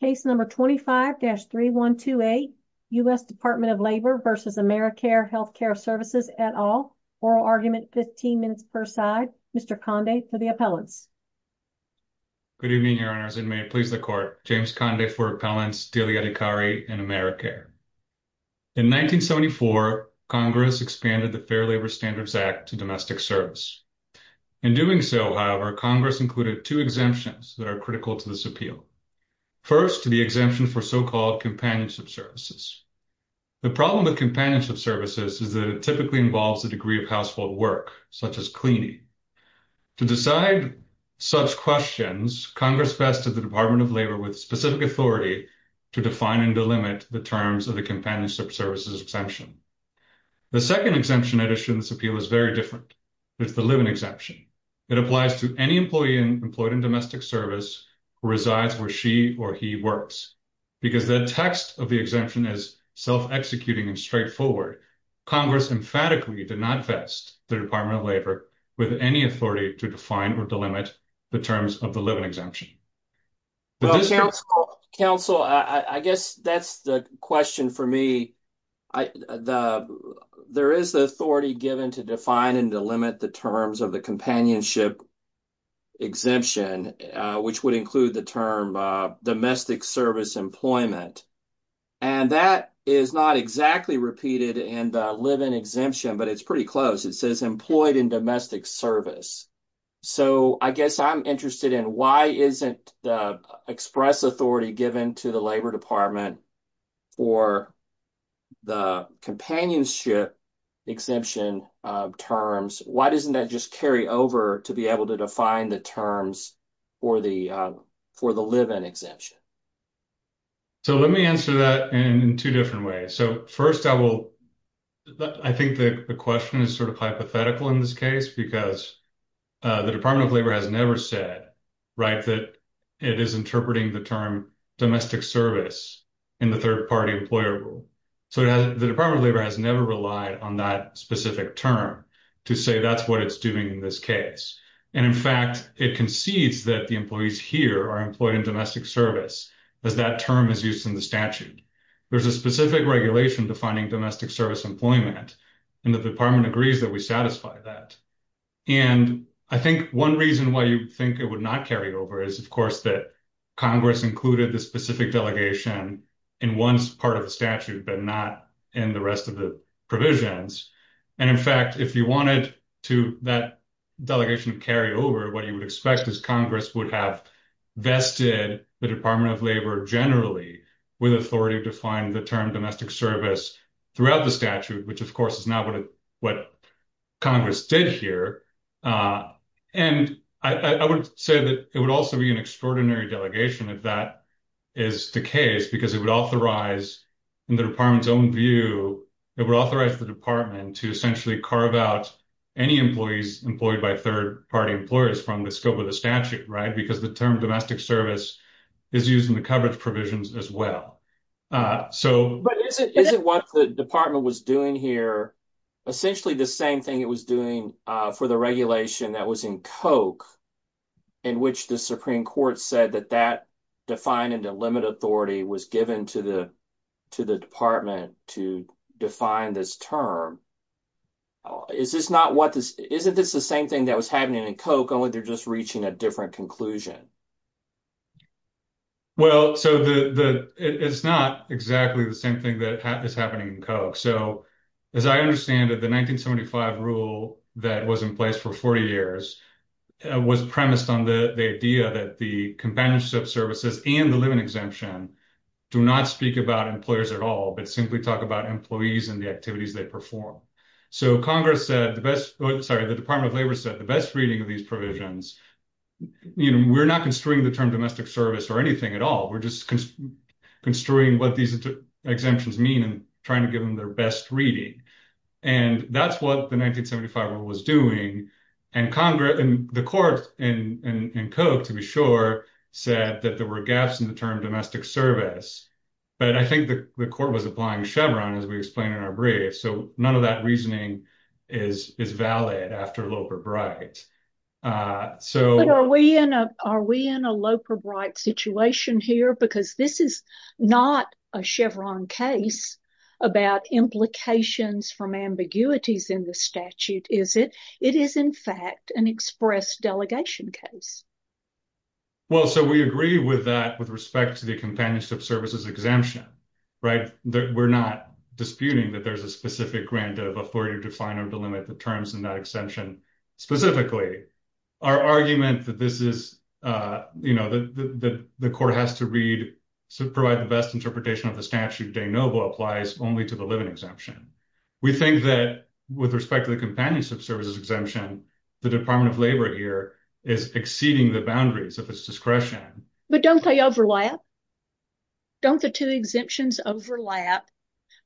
Case No. 25-3128, U.S. Department of Labor v. Americare Healthcare Services et al. Oral Argument, 15 minutes per side. Mr. Conde for the appellants. Good evening, Your Honors, and may it please the Court. James Conde for appellants Delia Dicari and Americare. In 1974, Congress expanded the Fair Labor Standards Act to domestic service. In doing so, however, Congress included two exemptions that are critical to this appeal. First, the exemption for so-called companionship services. The problem with companionship services is that it typically involves a degree of household work, such as cleaning. To decide such questions, Congress vested the Department of Labor with specific authority to define and delimit the terms of the companionship services exemption. The second exemption I'd issue in this appeal is very different. It's the living exemption. It applies to any employee employed in domestic service who resides where she or he works. Because the text of the exemption is self-executing and straightforward, Congress emphatically did not vest the Department of Labor with any authority to define or delimit the terms of the living exemption. Counsel, I guess that's the question for me. There is the authority given to define and delimit the terms of the companionship exemption, which would include the term domestic service employment. And that is not exactly repeated in the living exemption, but it's pretty close. It says employed in domestic service. So I guess I'm interested in why isn't the express authority given to the Labor Department for the companionship exemption terms? Why doesn't that just carry over to be able to define the terms for the living exemption? So let me answer that in two different ways. First, I think the question is sort of hypothetical in this case because the Department of Labor has never said that it is interpreting the term domestic service. In the third party employer rule. So the Department of Labor has never relied on that specific term to say that's what it's doing in this case. And in fact, it concedes that the employees here are employed in domestic service as that term is used in the statute. There's a specific regulation defining domestic service employment and the department agrees that we satisfy that. And I think one reason why you think it would not carry over is of course that Congress included the specific delegation in one part of the statute but not in the rest of the provisions. And in fact, if you wanted that delegation to carry over, what you would expect is Congress would have vested the Department of Labor generally with authority to find the term domestic service throughout the statute, which of course is not what Congress did here. And I would say that it would also be an extraordinary delegation if that is the case because it would authorize, in the department's own view, it would authorize the department to essentially carve out any employees employed by third party employers from the scope of the statute, right? Because the term domestic service is used in the coverage provisions as well. But isn't what the department was doing here essentially the same thing it was doing for the regulation that was in Koch in which the Supreme Court said that that defined and delimited authority was given to the department to define this term? Isn't this the same thing that was happening in Koch only they're just reaching a different conclusion? Well, so it's not exactly the same thing that is happening in Koch. So as I understand it, the 1975 rule that was in place for 40 years was premised on the idea that the companionship services and the limit exemption do not speak about employers at all, but simply talk about employees and the activities they perform. So Congress said the best, sorry, the Department of Labor said the best reading of these provisions, we're not construing the term domestic service or anything at all. We're just construing what these exemptions mean and trying to give them their best reading. And that's what the 1975 rule was doing. And the court in Koch, to be sure, said that there were gaps in the term domestic service. But I think the court was applying Chevron as we explained in our brief. So none of that reasoning is valid after Loper-Bright. But are we in a Loper-Bright situation here? Because this is not a Chevron case about implications from ambiguities in the statute, is it? It is, in fact, an express delegation case. Well, so we agree with that with respect to the companionship services exemption. We're not disputing that there's a specific grant of authority to define or delimit the terms in that exemption specifically. Our argument that this is, you know, that the court has to provide the best interpretation of the statute de novo applies only to the living exemption. We think that with respect to the companionship services exemption, the Department of Labor here is exceeding the boundaries of its discretion. But don't they overlap? Don't the two exemptions overlap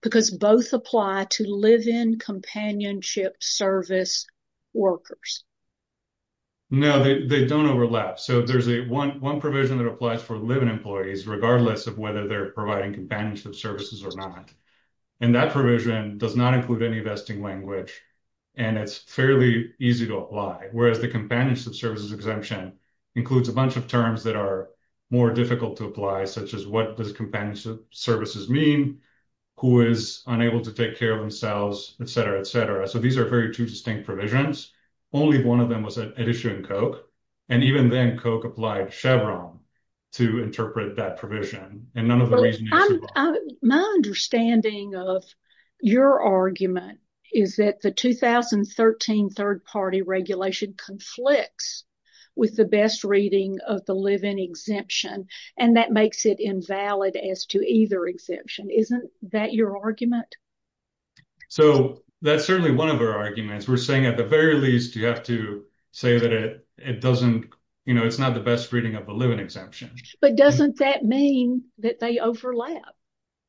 because both apply to live-in companionship service workers? No, they don't overlap. So there's one provision that applies for live-in employees regardless of whether they're providing companionship services or not. And that provision does not include any vesting language, and it's fairly easy to apply, whereas the companionship services exemption includes a bunch of terms that are more difficult to apply, such as what does companionship services mean, who is unable to take care of themselves, et cetera, et cetera. So these are very two distinct provisions. Only one of them was at issue in Koch. And even then, Koch applied Chevron to interpret that provision. And none of the reason you see… My understanding of your argument is that the 2013 third-party regulation conflicts with the best reading of the live-in exemption, and that makes it invalid as to either exemption. Isn't that your argument? So that's certainly one of our arguments. We're saying, at the very least, you have to say that it's not the best reading of the live-in exemption. But doesn't that mean that they overlap?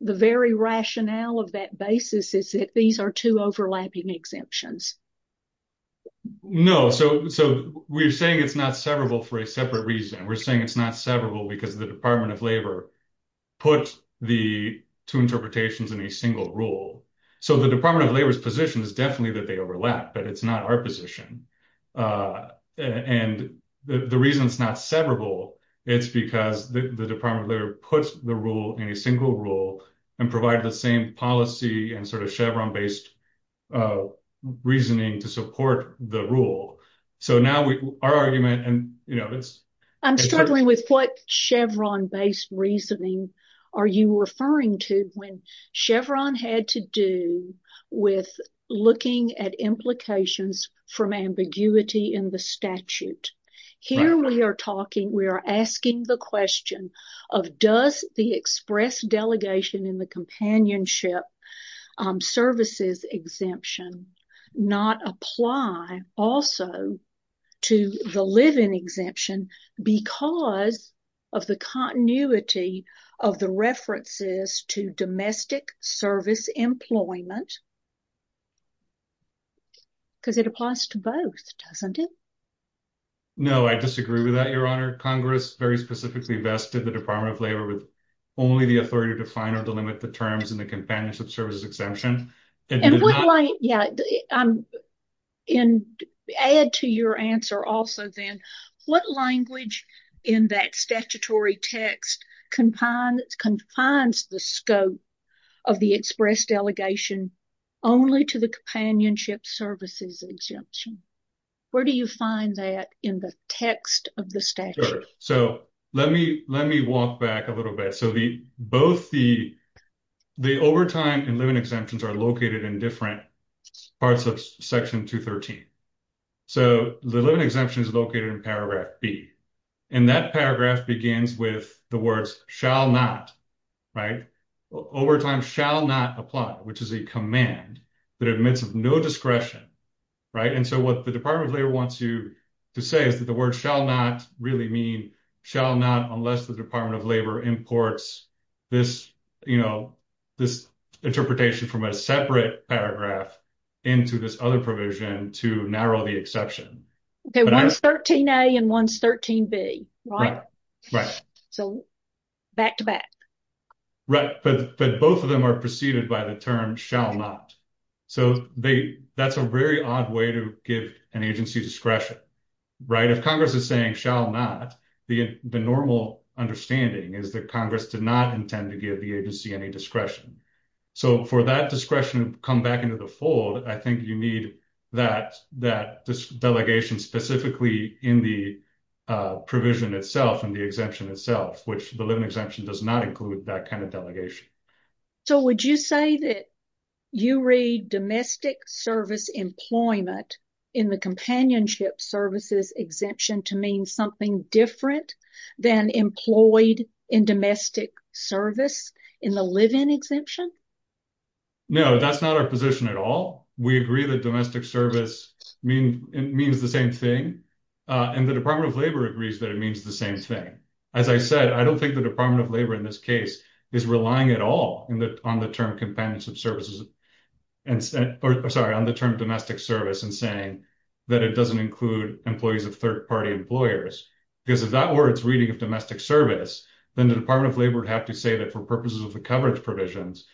The very rationale of that basis is that these are two overlapping exemptions. No. So we're saying it's not severable for a separate reason. We're saying it's not severable because the Department of Labor put the two interpretations in a single rule. So the Department of Labor's position is definitely that they overlap, but it's not our position. And the reason it's not severable, it's because the Department of Labor puts the rule in a single rule and provide the same policy and sort of Chevron-based reasoning to support the rule. So now our argument… I'm struggling with what Chevron-based reasoning are you referring to when Chevron had to do with looking at implications from ambiguity in the statute. Here we are asking the question of does the express delegation in the companionship services exemption not apply also to the live-in exemption because of the continuity of the references to domestic service employment? Because it applies to both, doesn't it? No, I disagree with that, Your Honor. Congress very specifically vested the Department of Labor with only the authority to define or delimit the terms in the companionship services exemption. And add to your answer also then, what language in that statutory text confines the scope of the express delegation only to the companionship services exemption? Where do you find that in the text of the statute? So let me walk back a little bit. So both the overtime and live-in exemptions are located in different parts of Section 213. So the live-in exemption is located in Paragraph B. And that paragraph begins with the words, shall not, right? Overtime shall not apply, which is a command that admits of no discretion, right? And so what the Department of Labor wants you to say is that the word shall not really mean shall not unless the Department of Labor imports this interpretation from a separate paragraph into this other provision to narrow the exception. Okay, one's 13A and one's 13B, right? Right. So back to back. Right, but both of them are preceded by the term shall not. So that's a very odd way to give an agency discretion, right? If Congress is saying shall not, the normal understanding is that Congress did not intend to give the agency any discretion. So for that discretion to come back into the fold, I think you need that delegation specifically in the provision itself and the exemption itself, which the live-in exemption does not include that kind of delegation. So would you say that you read domestic service employment in the companionship services exemption to mean something different than employed in domestic service in the live-in exemption? No, that's not our position at all. We agree that domestic service means the same thing, and the Department of Labor agrees that it means the same thing. As I said, I don't think the Department of Labor in this case is relying at all on the term companionship services, or sorry, on the term domestic service in saying that it doesn't include employees of third-party employers, because if that were its reading of domestic service, then the Department of Labor would have to say that for purposes of the coverage provisions,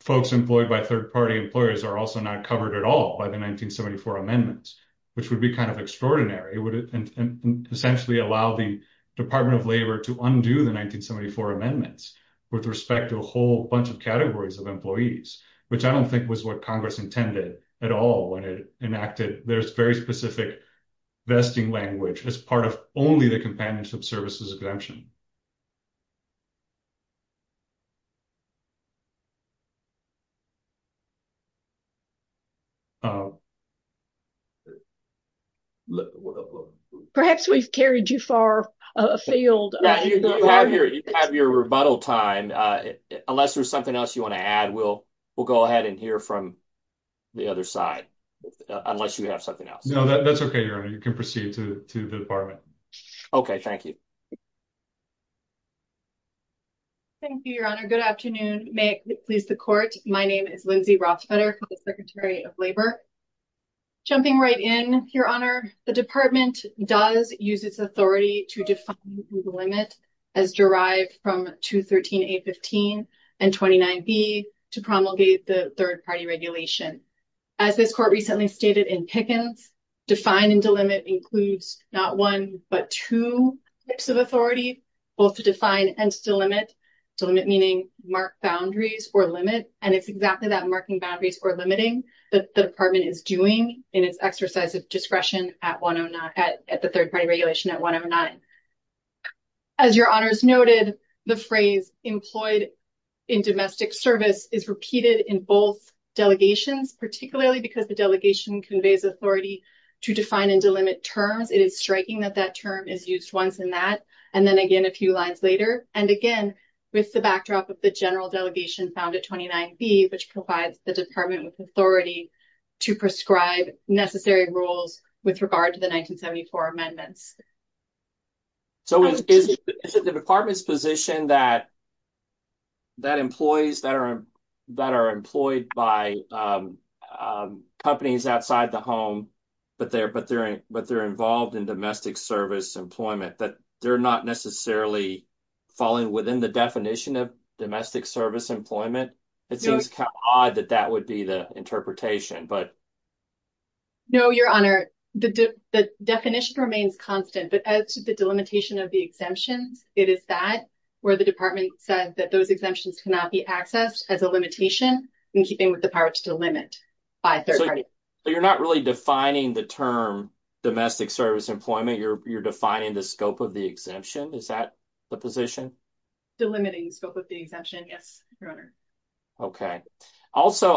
folks employed by third-party employers are also not covered at all by the 1974 amendments, which would be kind of extraordinary. It would essentially allow the Department of Labor to undo the 1974 amendments with respect to a whole bunch of categories of employees, which I don't think was what Congress intended at all when it enacted this very specific vesting language as part of only the companionship services exemption. Perhaps we've carried you far afield. You have your rebuttal time. Unless there's something else you want to add, we'll go ahead and hear from the other side, unless you have something else. No, that's okay, Your Honor. You can proceed to the Department. Okay, thank you. Thank you, Your Honor. Good afternoon. May it please the Court, my name is Lindsay Rothfeder, Secretary of Labor. Jumping right in, Your Honor, the Department does use its authority to define the limit as derived from 213A15 and 29B to promulgate the third-party regulation. As this Court recently stated in Pickens, define and delimit includes not one but two types of authority, both to define and to delimit, delimit meaning mark boundaries or limit, and it's exactly that marking boundaries or limiting that the Department is doing in its exercise of discretion at the third-party regulation at 109. As Your Honors noted, the phrase employed in domestic service is repeated in both delegations, particularly because the delegation conveys authority to define and delimit terms. It is striking that that term is used once in that, and then again a few lines later, and again with the backdrop of the general delegation found at 29B, which provides the Department with authority to prescribe necessary rules with regard to the 1974 amendments. So is it the Department's position that employees that are employed by companies outside the home, but they're involved in domestic service employment, that they're not necessarily falling within the definition of domestic service employment? It seems kind of odd that that would be the interpretation. No, Your Honor. The definition remains constant, but as to the delimitation of the exemptions, it is that where the Department said that those exemptions cannot be accessed as a limitation, in keeping with the power to delimit by third-party. So you're not really defining the term domestic service employment, you're defining the scope of the exemption. Is that the position? Delimiting the scope of the exemption, yes, Your Honor. Okay. Also,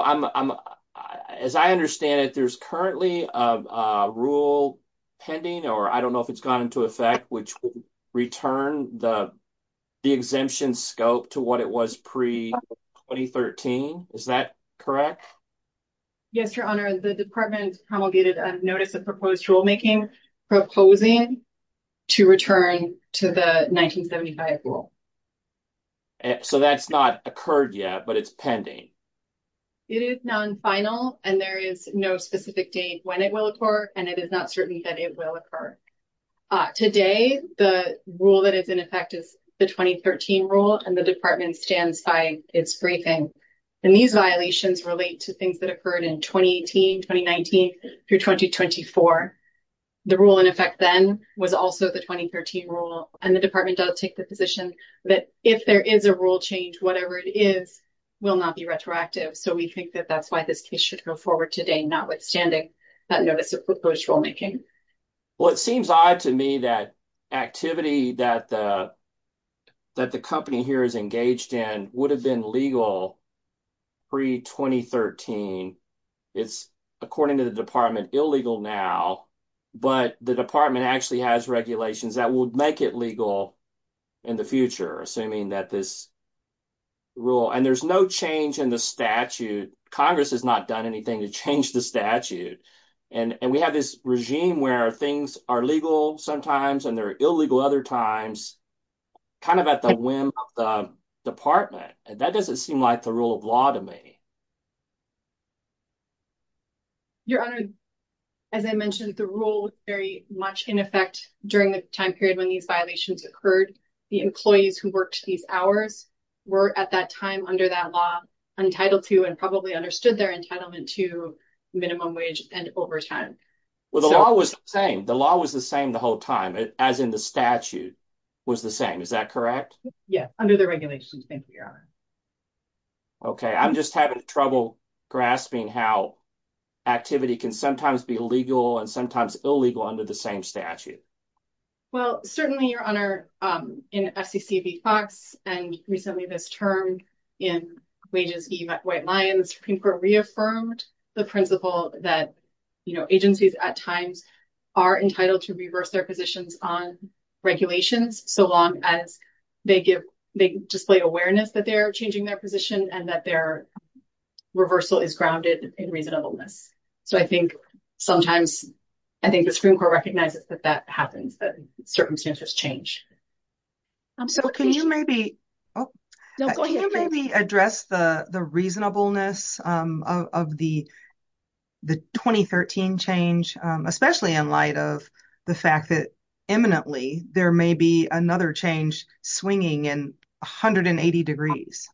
as I understand it, there's currently a rule pending, or I don't know if it's gone into effect, which would return the exemption scope to what it was pre-2013. Is that correct? Yes, Your Honor. The Department promulgated a notice of proposed rulemaking, proposing to return to the 1975 rule. So that's not occurred yet, but it's pending? It is non-final, and there is no specific date when it will occur, and it is not certain that it will occur. Today, the rule that is in effect is the 2013 rule, and the Department stands by its briefing. And these violations relate to things that occurred in 2018, 2019, through 2024. The rule in effect then was also the 2013 rule, and the Department does take the position that if there is a rule change, whatever it is, will not be retroactive. So we think that that's why this case should go forward today, notwithstanding that notice of proposed rulemaking. Well, it seems odd to me that activity that the company here is engaged in would have been legal pre-2013. It's, according to the Department, illegal now, but the Department actually has regulations that would make it legal in the future, assuming that this rule... And there's no change in the statute. Congress has not done anything to change the statute, and we have this regime where things are legal sometimes and they're illegal other times, kind of at the whim of the Department. That doesn't seem like the rule of law to me. Your Honor, as I mentioned, the rule was very much in effect during the time period when these violations occurred. The employees who worked these hours were at that time under that law were entitled to and probably understood their entitlement to minimum wage and overtime. Well, the law was the same. The law was the same the whole time, as in the statute was the same. Is that correct? Yes, under the regulations, thank you, Your Honor. Okay, I'm just having trouble grasping how activity can sometimes be legal and sometimes illegal under the same statute. Well, certainly, Your Honor, in FCC v. Fox and recently this term in wages v. White Lions, the Supreme Court reaffirmed the principle that agencies at times are entitled to reverse their positions on regulations so long as they display awareness that they're changing their position and that their reversal is grounded in reasonableness. So I think sometimes the Supreme Court recognizes that that happens, that circumstances change. So can you maybe address the reasonableness of the 2013 change, especially in light of the fact that imminently there may be another change swinging in 180 degrees?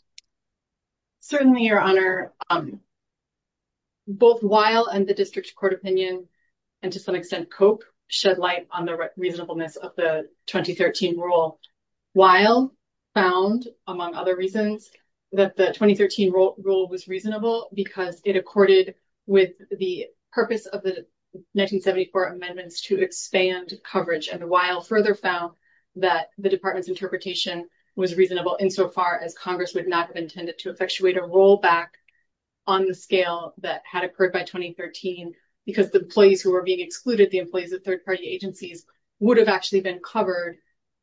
Certainly, Your Honor. Both Weil and the district court opinion and to some extent Cope shed light on the reasonableness of the 2013 rule. Weil found, among other reasons, that the 2013 rule was reasonable because it accorded with the purpose of the 1974 amendments to expand coverage. And Weil further found that the department's interpretation was reasonable insofar as Congress would not have intended to effectuate a rollback on the scale that had occurred by 2013 because the employees who were being excluded, the employees of third-party agencies, would have actually been covered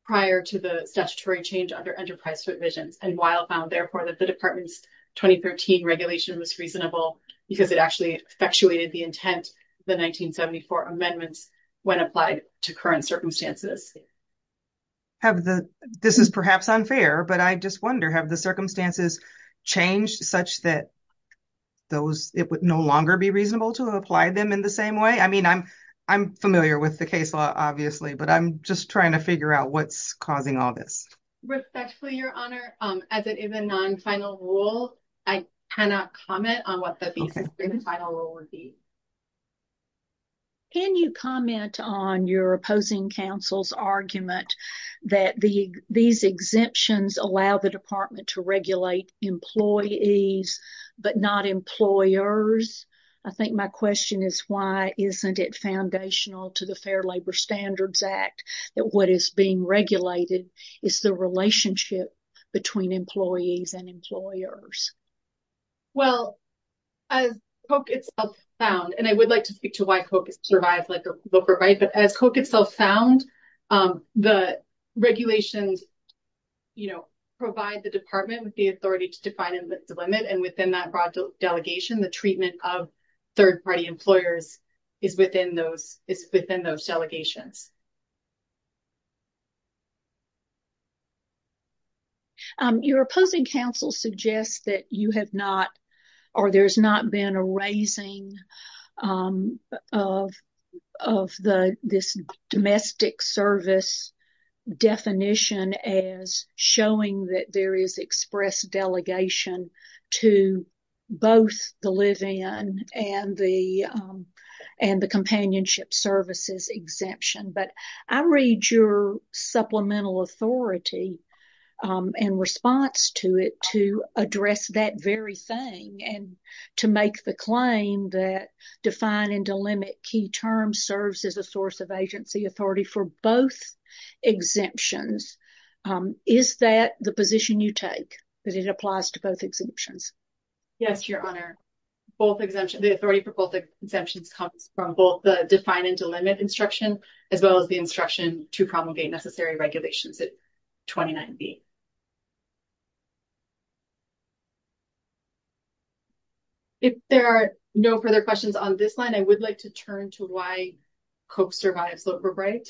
prior to the statutory change under enterprise provisions. And Weil found, therefore, that the department's 2013 regulation was reasonable because it actually effectuated the intent of the 1974 amendments when applied to current circumstances. This is perhaps unfair, but I just wonder, have the circumstances changed such that it would no longer be reasonable to apply them in the same way? I mean, I'm familiar with the case law, obviously, but I'm just trying to figure out what's causing all this. Respectfully, Your Honor, as it is a non-final rule, I cannot comment on what the basis for the final rule would be. Can you comment on your opposing counsel's argument that these exemptions allow the department to regulate employees but not employers? I think my question is, why isn't it foundational to the Fair Labor Standards Act that what is being regulated is the relationship between employees and employers? Well, as Koch itself found, and I would like to speak to why Koch survived, but as Koch itself found, the regulations, you know, provide the department with the authority to define and limit, and within that broad delegation, the treatment of third-party employers is within those delegations. Your opposing counsel suggests that you have not, or there's not been a raising of this domestic service definition as showing that there is express delegation to both the live-in and the companionship services exemption. But I read your supplemental authority and response to it to address that very thing and to make the claim that define and delimit key terms serves as a source of agency authority for both exemptions. Is that the position you take, that it applies to both exemptions? Yes, Your Honor. Both exemptions, the authority for both exemptions comes from both the define and delimit instruction as well as the instruction to promulgate necessary regulations at 29B. If there are no further questions on this line, I would like to turn to why Koch survives Loeb or Bright.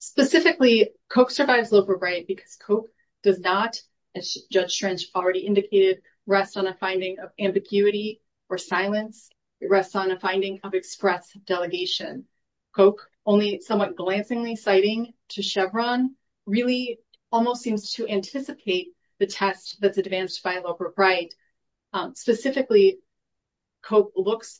Specifically, Koch survives Loeb or Bright because Koch does not, as Judge Schrench already indicated, rest on a finding of ambiguity or silence. It rests on a finding of express delegation. Koch, only somewhat glancingly citing to Chevron, really almost seems to anticipate the test that's advanced by Loeb or Bright. Specifically, Koch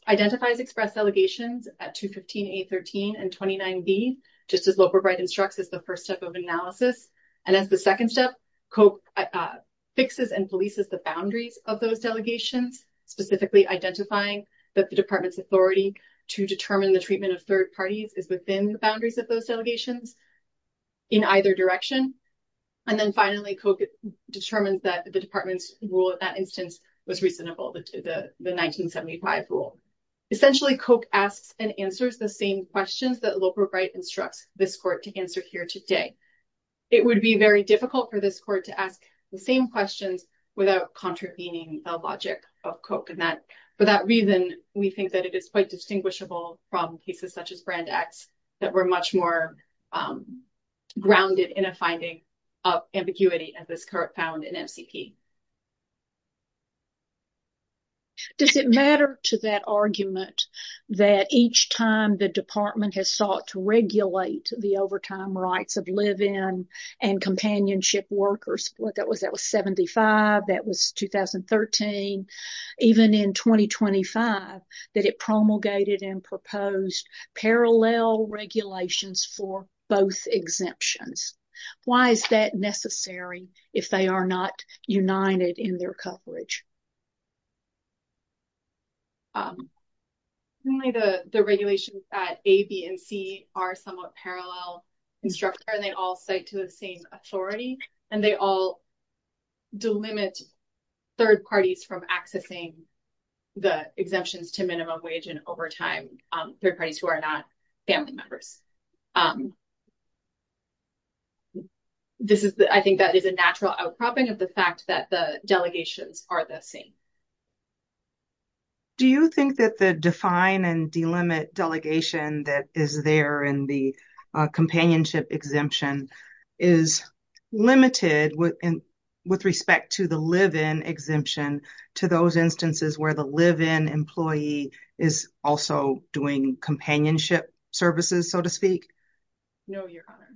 identifies express delegations at 215A13 and 29B, just as Loeb or Bright instructs as the first step of analysis. And as the second step, Koch fixes and polices the boundaries of those delegations, specifically identifying that the department's authority to determine the treatment of third parties is within the boundaries of those delegations in either direction. And then finally, Koch determines that the department's rule in that instance was reasonable, the 1975 rule. Essentially, Koch asks and answers the same questions that Loeb or Bright instructs this court to answer here today. It would be very difficult for this court to ask the same questions without contravening the logic of Koch. And for that reason, we think that it is quite distinguishable from cases such as Brand X that were much more grounded in a finding of ambiguity, as this court found in MCP. Does it matter to that argument that each time the department has sought to regulate the overtime rights of live-in and companionship workers, what that was, that was 75, that was 2013, even in 2025, that it promulgated and proposed parallel regulations for both exemptions? Why is that necessary if they are not united in their coverage? The regulations at A, B and C are somewhat parallel instructor and they all cite to the same authority and they all delimit third parties from accessing the exemptions to minimum wage and overtime, third parties who are not family members. I think that is a natural outcropping of the fact that the delegations are the same. Do you think that the define and delimit delegation that is there in the companionship exemption is limited with respect to the live-in exemption to those instances where the live-in employee is also doing companionship services, so to speak? No, Your Honor.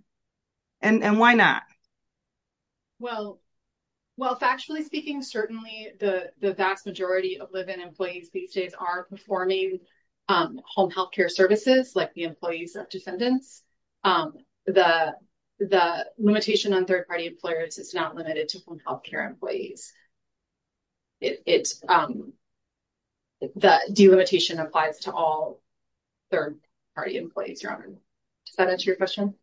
And why not? Well, factually speaking, certainly the vast majority of live-in employees these days are performing home healthcare services like the employees of descendants. The limitation on third-party employers is not limited to home healthcare employees. The delimitation applies to all third-party employees, Does that answer your question?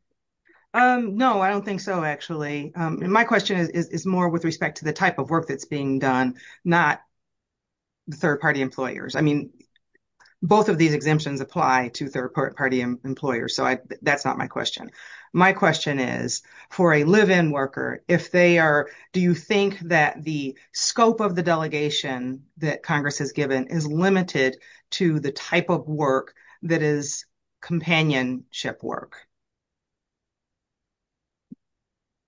No, I don't think so, actually. And my question is more with respect to the type of work that's being done, not third-party employers. I mean, both of these exemptions apply to third-party employers, so that's not my question. My question is for a live-in worker, if they are, do you think that the scope of the delegation that Congress has given is limited to the type of work that is companionship work?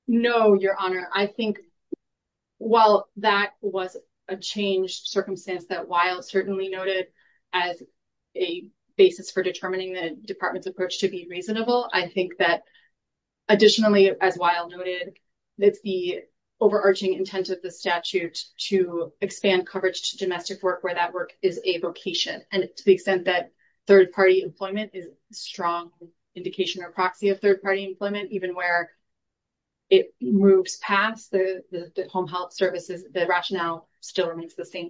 No, Your Honor. I think while that was a changed circumstance that Weil certainly noted as a basis for determining the Department's approach to be reasonable, I think that additionally, as Weil noted, that the overarching intent of the statute to expand coverage to domestic work where that work is a vocation, and to the extent that third-party employment is a strong indication or proxy of third-party employment, even where it moves past the home health services, the rationale still remains the same.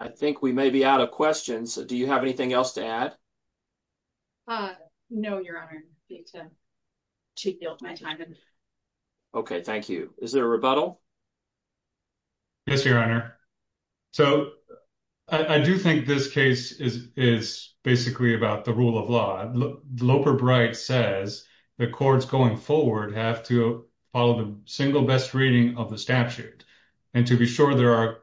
I think we may be out of questions. Do you have anything else to add? No, Your Honor. Okay, thank you. Is there a rebuttal? Yes, Your Honor. So, I do think this case is basically about the rule of law. Loper Bright says the courts going forward have to follow the single best reading of the statute, and to be sure there are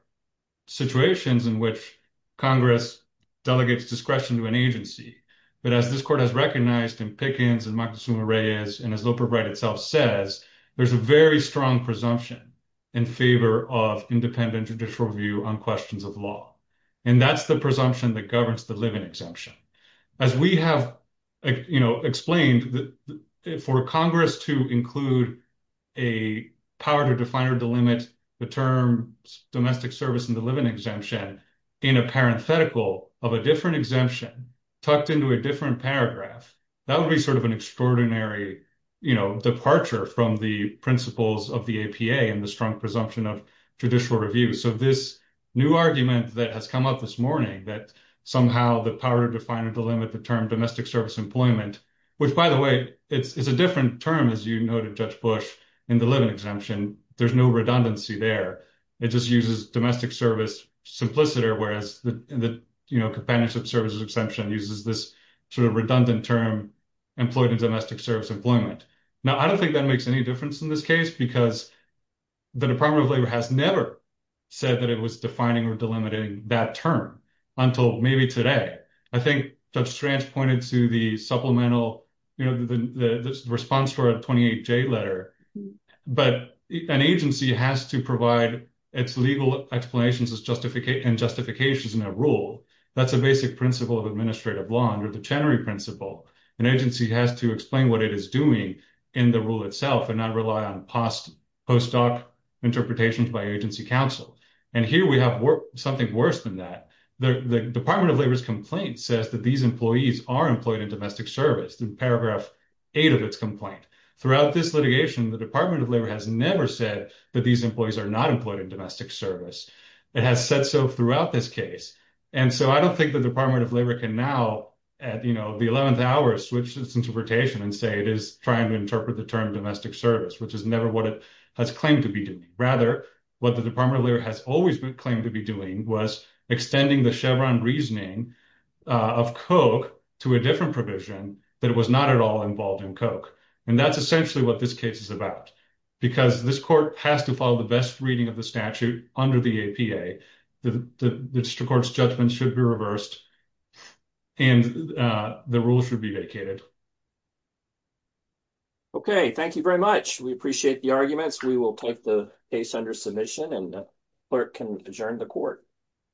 situations in which Congress delegates discretion to an agency. But as this court has recognized in Pickens and Maxima Reyes, and as Loper Bright itself says, there's a very strong presumption in favor of independent judicial review on questions of law. And that's the presumption that governs the living exemption. As we have explained, for Congress to include a power to define or delimit the term domestic service in the living exemption in a parenthetical of a different exemption tucked into a different paragraph, that would be sort of an extraordinary, you know, departure from the principles of the APA and the strong presumption of judicial review. So, this new argument that has come up this morning, that somehow the power to define or delimit the term domestic service employment, which, by the way, is a different term, as you noted, Judge Bush, in the living exemption. There's no redundancy there. It just uses domestic service simpliciter, whereas the, you know, companionship services exemption uses this sort of redundant term employed in domestic service employment. Now, I don't think that makes any difference in this case, because the Department of Labor has never said that it was defining or delimiting that term until maybe today. I think Judge Strange pointed to the supplemental, you know, the response for a 28-J letter, but an agency has to provide its legal explanations and justifications in a rule. That's a basic principle of administrative law under the Chenery Principle. An agency has to explain what it is doing in the rule itself and not rely on post-doc interpretations by agency counsel. And here we have something worse than that. The Department of Labor's complaint says that these employees are employed in domestic service in paragraph eight of its complaint. Throughout this litigation, the Department of Labor has never said that these employees are not employed in domestic service. It has said so throughout this case. And so I don't think the Department of Labor can now, you know, the 11th hour switch its interpretation and say it is trying to interpret the term domestic service, which is never what it has claimed to be doing. Rather, what the Department of Labor has always claimed to be doing was extending the Chevron reasoning of Koch to a different provision that it was not at all involved in Koch. And that is essentially what this case is about. Because this court has to follow the best reading of the statute under the APA. The district court's judgment should be reversed and the rules should be vacated. Okay, thank you very much. We appreciate the arguments. We will take the case under submission and the clerk can adjourn the court.